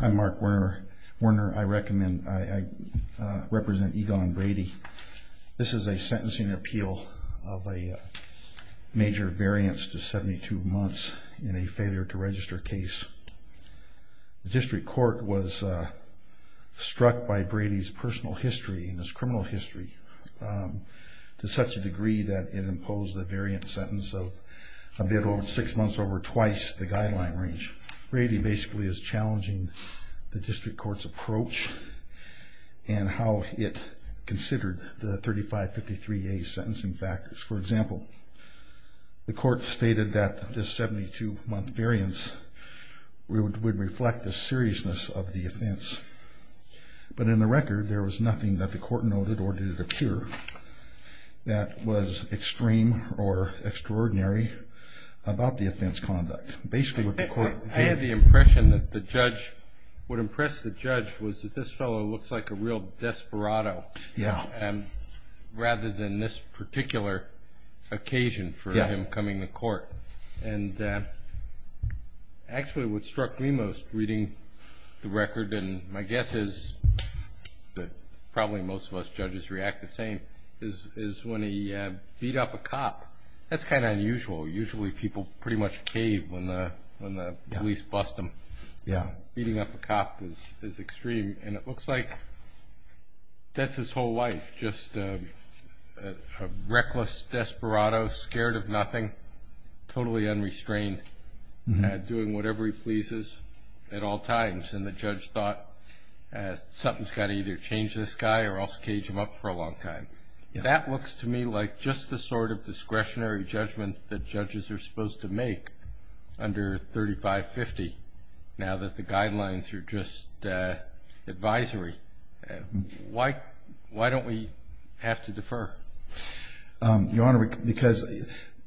I'm Mark Werner. I represent Egonn Brady. This is a sentencing appeal of a major variance to 72 months in a failure to register case. The district court was struck by Brady's personal history and his criminal history to such a degree that it imposed a variant sentence of 6 months over twice the guideline range. Brady basically is challenging the district court's approach and how it considered the 3553A sentencing factors. For example, the court stated that this 72 month variance would reflect the seriousness of the offense. But in the record there was nothing that the court noted or did it appear that was extreme or extraordinary about the offense conduct. I had the impression that what impressed the judge was that this fellow looks like a real desperado rather than this particular occasion for him coming to court. And actually what struck me most reading the record and my guess is that probably most of us judges react the same is when he beat up a cop. That's kind of unusual. Usually people pretty much cave when the police bust them. Beating up a cop is extreme and it looks like that's his whole life. Just a reckless desperado, scared of nothing, totally unrestrained, doing whatever he pleases at all times. And the judge thought something's got to either change this guy or else cage him up for a long time. That looks to me like just the sort of discretionary judgment that judges are supposed to make under 3550. Now that the guidelines are just advisory. Why don't we have to defer? Your Honor, because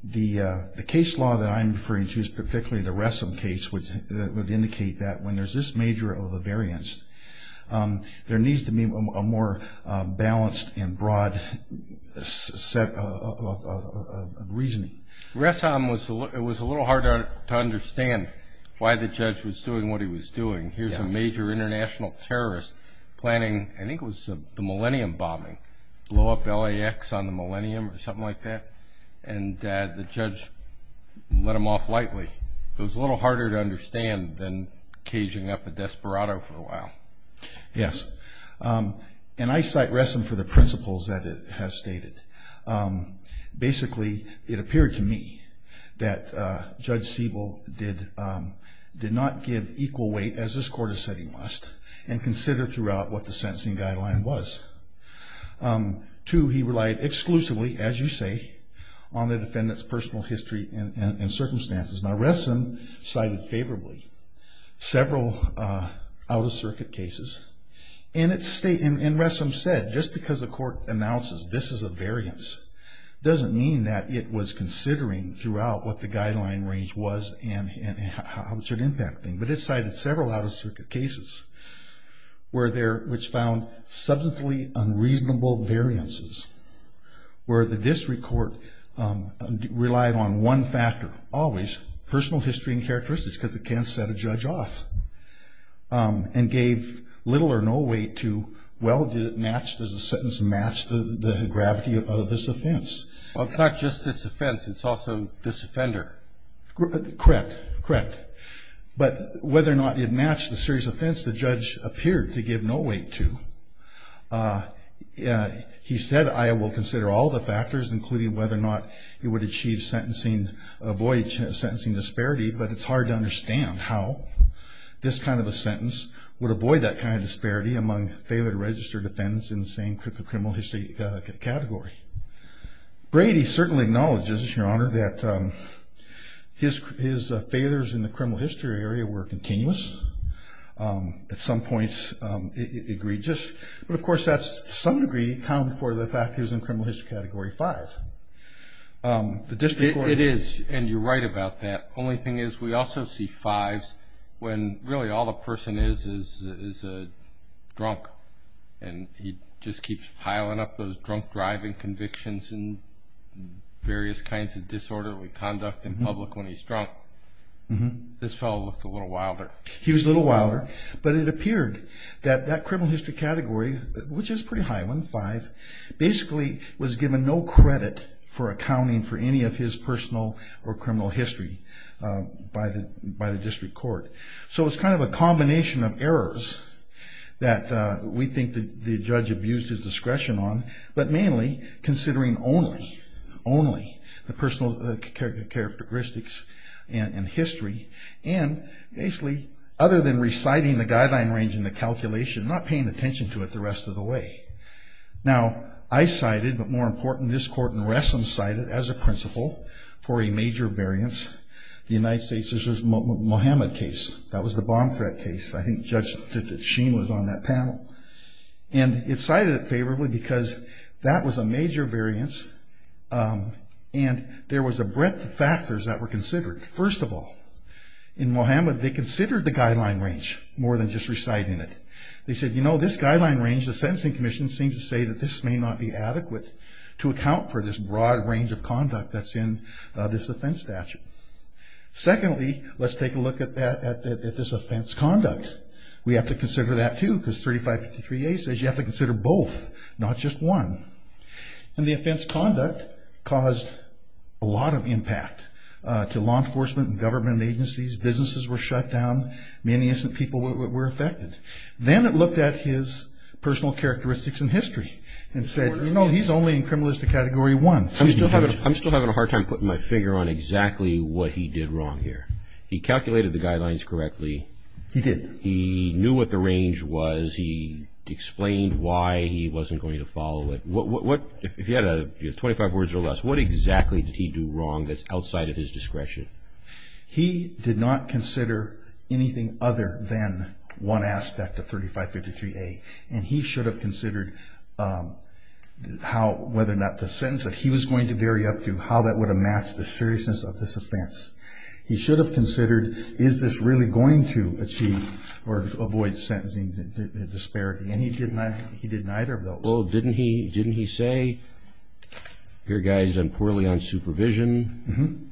the case law that I'm referring to is particularly the Wessom case, which would indicate that when there's this major of a variance, there needs to be a more balanced and broad set of reasoning. Wessom, it was a little harder to understand why the judge was doing what he was doing. Here's a major international terrorist planning, I think it was the Millennium bombing. Blow up LAX on the Millennium or something like that and the judge let him off lightly. It was a little harder to understand than caging up a desperado for a while. Yes. And I cite Wessom for the principles that it has stated. Basically, it appeared to me that Judge Siebel did not give equal weight, as this court has said he must, and considered throughout what the sentencing guideline was. Two, he relied exclusively, as you say, on the defendant's personal history and circumstances. Now Wessom cited favorably several out-of-circuit cases. And Wessom said, just because the court announces this is a variance, doesn't mean that it was considering throughout what the guideline range was and how it should impact things. But it cited several out-of-circuit cases which found substantially unreasonable variances, where the district court relied on one factor always, personal history and characteristics, because it can't set a judge off, and gave little or no weight to, well, does the sentence match the gravity of this offense? Well, it's not just this offense, it's also this offender. Correct. Correct. But whether or not it matched the serious offense, the judge appeared to give no weight to. He said, I will consider all the factors, including whether or not it would achieve sentencing, avoid sentencing disparity, but it's hard to understand how this kind of a sentence would avoid that kind of disparity among failure to register defendants in the same criminal history category. Brady certainly acknowledges, Your Honor, that his failures in the criminal history area were continuous. At some points, egregious. But, of course, that to some degree accounted for the fact that he was in criminal history category five. It is, and you're right about that. The only thing is we also see fives when really all the person is is a drunk, and he just keeps piling up those drunk driving convictions and various kinds of disorderly conduct in public when he's drunk. This fellow looks a little wilder. He was a little wilder, but it appeared that that criminal history category, which is pretty high, one of five, basically was given no credit for accounting for any of his personal or criminal history by the district court. So it's kind of a combination of errors that we think the judge abused his discretion on, but mainly considering only, only the personal characteristics and history, and basically other than reciting the guideline range in the calculation, not paying attention to it the rest of the way. Now, I cited, but more important, this court in Wressom cited as a principle for a major variance, the United States' Mohammed case. That was the bomb threat case. I think Judge Sheen was on that panel, and it cited it favorably because that was a major variance, and there was a breadth of factors that were considered. First of all, in Mohammed, they considered the guideline range more than just reciting it. They said, you know, this guideline range, the sentencing commission seems to say that this may not be adequate to account for this broad range of conduct that's in this offense statute. Secondly, let's take a look at this offense conduct. We have to consider that, too, because 3553A says you have to consider both, not just one. And the offense conduct caused a lot of impact to law enforcement and government agencies. Businesses were shut down. Many innocent people were affected. Then it looked at his personal characteristics and history and said, you know, he's only in criminalistic category one. I'm still having a hard time putting my finger on exactly what he did wrong here. He calculated the guidelines correctly. He did. He knew what the range was. He explained why he wasn't going to follow it. If you had 25 words or less, what exactly did he do wrong that's outside of his discretion? He did not consider anything other than one aspect of 3553A, and he should have considered whether or not the sentence that he was going to vary up to, how that would have matched the seriousness of this offense. He should have considered, is this really going to achieve or avoid sentencing disparity, and he didn't either of those. Well, didn't he say, your guy's done poorly on supervision.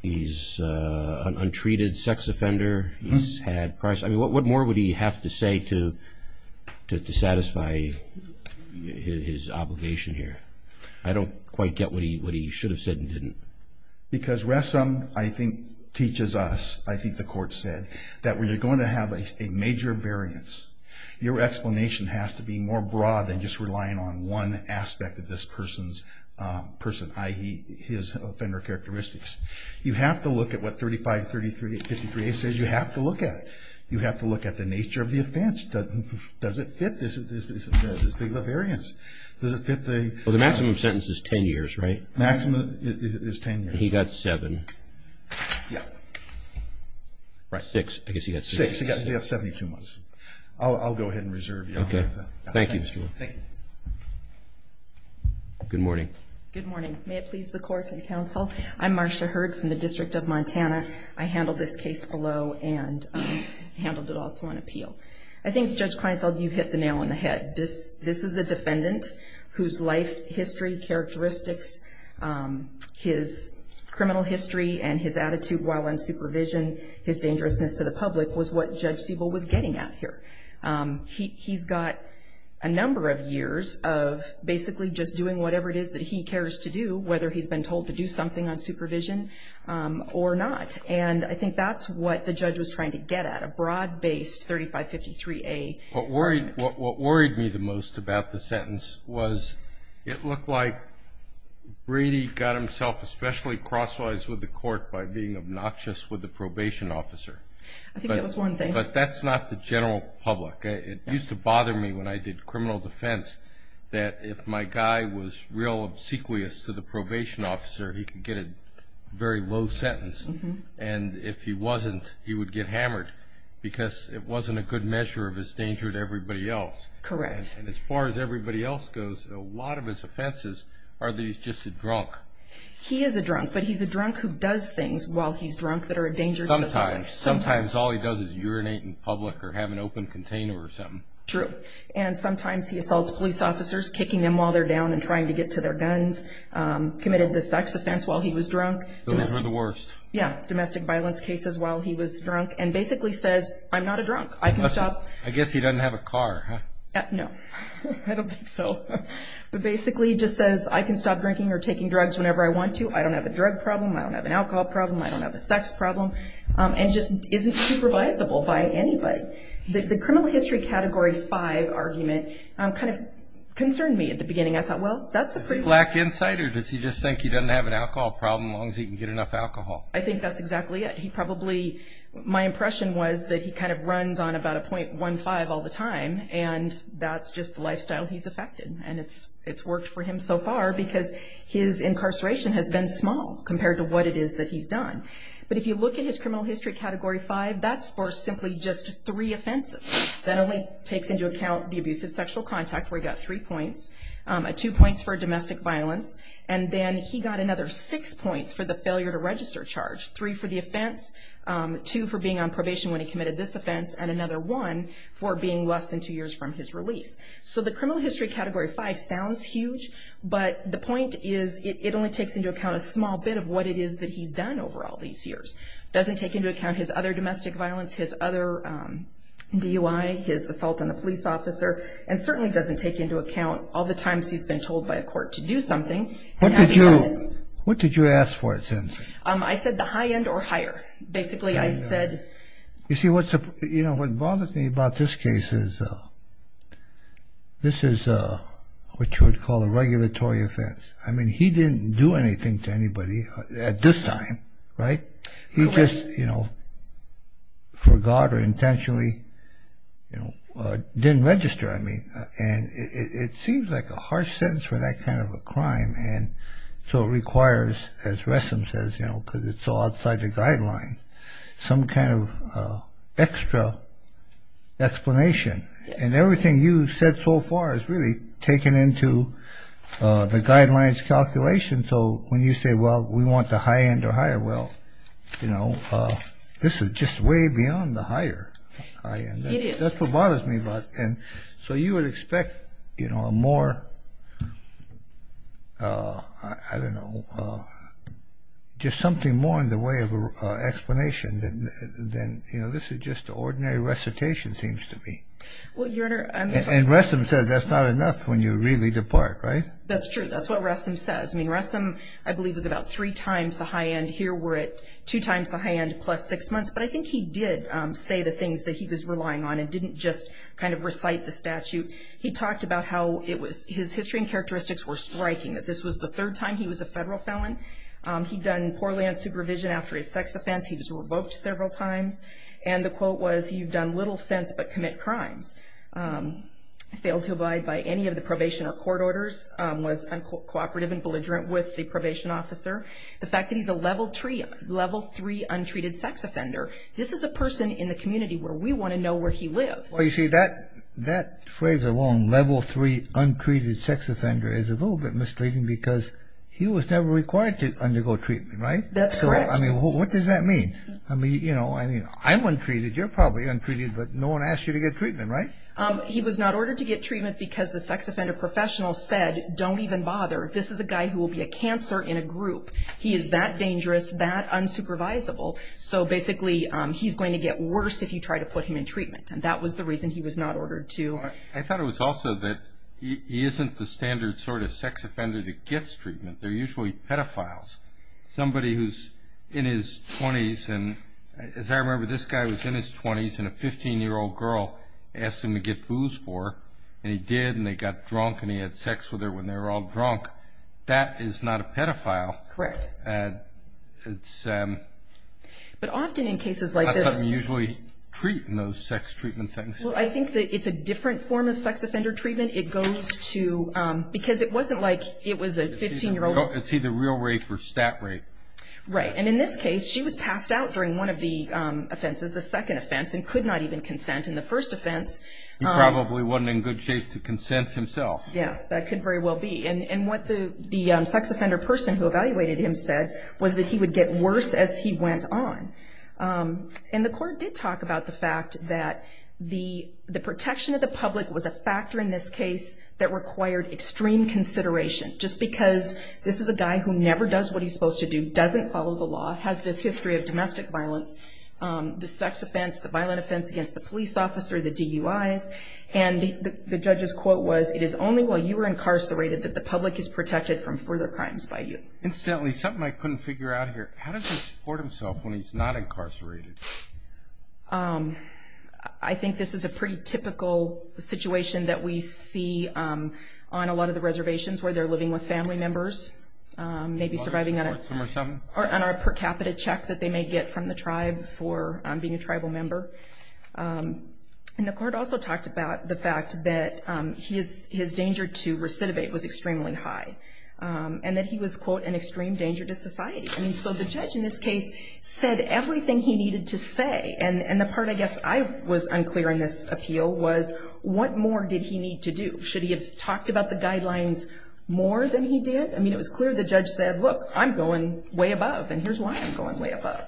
He's an untreated sex offender. I mean, what more would he have to say to satisfy his obligation here? I don't quite get what he should have said and didn't. Because Ressam, I think, teaches us, I think the court said, that when you're going to have a major variance, your explanation has to be more broad than just relying on one aspect of this person's person, i.e., his offender characteristics. You have to look at what 3553A says you have to look at. You have to look at the nature of the offense. Does it fit this big of a variance? Does it fit the… Well, the maximum sentence is 10 years, right? Maximum is 10 years. He got seven. Yeah. Right. Six. I guess he got six. Six. He got 72 months. I'll go ahead and reserve you. Okay. Thank you, Mr. Ruler. Thank you. Good morning. Good morning. May it please the court and counsel, I'm Marcia Hurd from the District of Montana. I handled this case below and handled it also on appeal. I think, Judge Kleinfeld, you hit the nail on the head. This is a defendant whose life history characteristics, his criminal history and his attitude while on supervision, his dangerousness to the public was what Judge Siebel was getting at here. He's got a number of years of basically just doing whatever it is that he cares to do, whether he's been told to do something on supervision or not. And I think that's what the judge was trying to get at, a broad-based 3553A. What worried me the most about the sentence was it looked like Brady got himself especially crosswise with the court by being obnoxious with the probation officer. I think that was one thing. But that's not the general public. It used to bother me when I did criminal defense that if my guy was real obsequious to the probation officer, he could get a very low sentence. And if he wasn't, he would get hammered because it wasn't a good measure of his danger to everybody else. Correct. And as far as everybody else goes, a lot of his offenses are that he's just a drunk. He is a drunk, but he's a drunk who does things while he's drunk that are a danger to the public. Sometimes. Sometimes all he does is urinate in public or have an open container or something. True. And sometimes he assaults police officers, kicking them while they're down and trying to get to their guns, committed the sex offense while he was drunk. Those were the worst. Yeah. Domestic violence cases while he was drunk and basically says, I'm not a drunk. I can stop. I guess he doesn't have a car, huh? No. I don't think so. But basically he just says, I can stop drinking or taking drugs whenever I want to. I don't have a drug problem. I don't have an alcohol problem. I don't have a sex problem. And he just isn't supervisable by anybody. The criminal history category five argument kind of concerned me at the beginning. I thought, well, that's a pretty good. Does he lack insight or does he just think he doesn't have an alcohol problem as long as he can get enough alcohol? I think that's exactly it. He probably, my impression was that he kind of runs on about a .15 all the time, and that's just the lifestyle he's affected. And it's worked for him so far because his incarceration has been small compared to what it is that he's done. But if you look at his criminal history category five, that's for simply just three offenses. That only takes into account the abusive sexual contact where he got three points. Two points for domestic violence, and then he got another six points for the failure to register charge, three for the offense, two for being on probation when he committed this offense, and another one for being less than two years from his release. So the criminal history category five sounds huge, but the point is it only takes into account a small bit of what it is that he's done over all these years. It doesn't take into account his other domestic violence, his other DUI, his assault on a police officer, and certainly doesn't take into account all the times he's been told by a court to do something. What did you ask for, Cindy? I said the high end or higher. Basically, I said... You see, what bothers me about this case is this is what you would call a regulatory offense. I mean, he didn't do anything to anybody at this time, right? He just, you know, forgot or intentionally, you know, didn't register, I mean, and it seems like a harsh sentence for that kind of a crime, and so it requires, as Wessom says, you know, because it's so outside the guidelines, some kind of extra explanation. And everything you said so far is really taken into the guidelines calculation. So when you say, well, we want the high end or higher, well, you know, this is just way beyond the higher high end. It is. That's what bothers me about it. And so you would expect, you know, a more, I don't know, just something more in the way of an explanation than, you know, this is just ordinary recitation seems to be. Well, Your Honor, I'm... And Wessom says that's not enough when you really depart, right? That's true. That's what Wessom says. I mean, Wessom, I believe, was about three times the high end. Here we're at two times the high end plus six months. But I think he did say the things that he was relying on and didn't just kind of recite the statute. He talked about how it was his history and characteristics were striking, that this was the third time he was a federal felon. He'd done poor land supervision after his sex offense. He was revoked several times. And the quote was, you've done little since but commit crimes. Failed to abide by any of the probation or court orders. Was uncooperative and belligerent with the probation officer. The fact that he's a level three untreated sex offender. This is a person in the community where we want to know where he lives. Well, you see, that phrase alone, level three untreated sex offender, is a little bit misleading because he was never required to undergo treatment, right? That's correct. I mean, what does that mean? I mean, you know, I'm untreated, you're probably untreated, but no one asked you to get treatment, right? He was not ordered to get treatment because the sex offender professional said, don't even bother. This is a guy who will be a cancer in a group. He is that dangerous, that unsupervisable. So basically, he's going to get worse if you try to put him in treatment. And that was the reason he was not ordered to. I thought it was also that he isn't the standard sort of sex offender that gets treatment. They're usually pedophiles. Somebody who's in his 20s, and as I remember, this guy was in his 20s, and a 15-year-old girl asked him to get booze for her. And he did, and they got drunk, and he had sex with her when they were all drunk. That is not a pedophile. Correct. But often in cases like this. That's not something you usually treat in those sex treatment things. Well, I think that it's a different form of sex offender treatment. It goes to, because it wasn't like it was a 15-year-old. It's either real rape or stat rape. Right. And in this case, she was passed out during one of the offenses, the second offense, and could not even consent in the first offense. He probably wasn't in good shape to consent himself. Yeah, that could very well be. And what the sex offender person who evaluated him said was that he would get worse as he went on. And the court did talk about the fact that the protection of the public was a factor in this case that required extreme consideration. Just because this is a guy who never does what he's supposed to do, doesn't follow the law, has this history of domestic violence, the sex offense, the violent offense against the police officer, the DUIs. And the judge's quote was, it is only while you are incarcerated that the public is protected from further crimes by you. Incidentally, something I couldn't figure out here, how does he support himself when he's not incarcerated? I think this is a pretty typical situation that we see on a lot of the reservations where they're living with family members, maybe surviving on a per capita check that they may get from the tribe for being a tribal member. And the court also talked about the fact that his danger to recidivate was extremely high. And that he was, quote, an extreme danger to society. And so the judge in this case said everything he needed to say. And the part I guess I was unclear in this appeal was, what more did he need to do? Should he have talked about the guidelines more than he did? I mean, it was clear the judge said, look, I'm going way above, and here's why I'm going way above.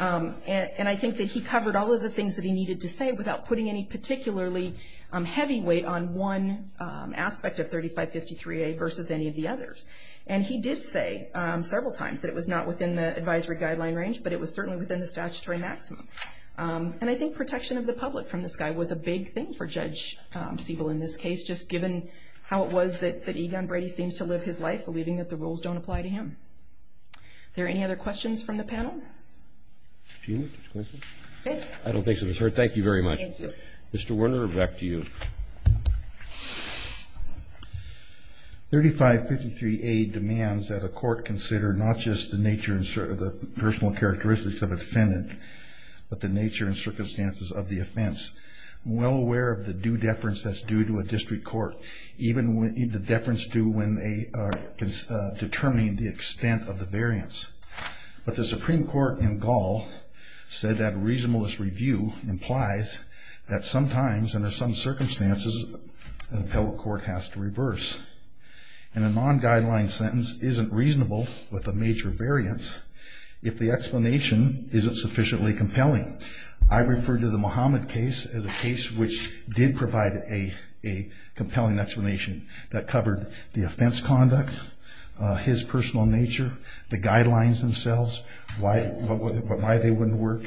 And I think that he covered all of the things that he needed to say without putting any particularly heavy weight on one aspect of 3553A versus any of the others. And he did say several times that it was not within the advisory guideline range, but it was certainly within the statutory maximum. And I think protection of the public from this guy was a big thing for Judge Siebel in this case, just given how it was that Egon Brady seems to live his life believing that the rules don't apply to him. Are there any other questions from the panel? I don't think so, Miss Hurd. Thank you very much. Thank you. Mr. Werner, back to you. 3553A demands that a court consider not just the nature and personal characteristics of a defendant, but the nature and circumstances of the offense. I'm well aware of the due deference that's due to a district court, even the deference due when they are determining the extent of the variance. But the Supreme Court in Gaul said that a reasonableness review implies that sometimes, under some circumstances, an appellate court has to reverse. And a non-guideline sentence isn't reasonable with a major variance if the explanation isn't sufficiently compelling. I refer to the Muhammad case as a case which did provide a compelling explanation that covered the offense conduct, his personal nature, the guidelines themselves, why they wouldn't work.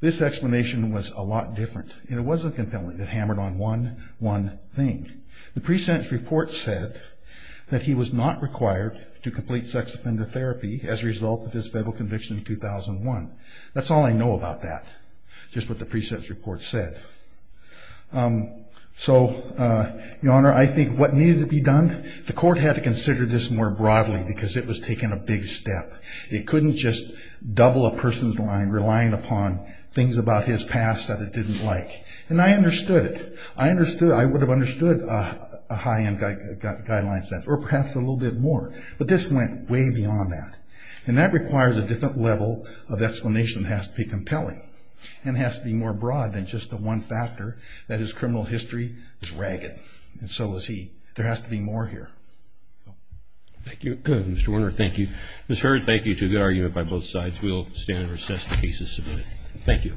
This explanation was a lot different, and it wasn't compelling. It hammered on one thing. The pre-sentence report said that he was not required to complete sex offender therapy as a result of his federal conviction in 2001. That's all I know about that, just what the pre-sentence report said. So, Your Honor, I think what needed to be done, the court had to consider this more broadly, because it was taking a big step. It couldn't just double a person's line, relying upon things about his past that it didn't like. And I understood it. I would have understood a high-end guideline sentence, or perhaps a little bit more. But this went way beyond that. And it has to be more broad than just the one factor that his criminal history is ragged. And so is he. There has to be more here. Thank you. Good. Mr. Werner, thank you. Ms. Hurd, thank you, too. Good argument by both sides. We will stand and recess the case as submitted. Thank you. Thank you. Thank you.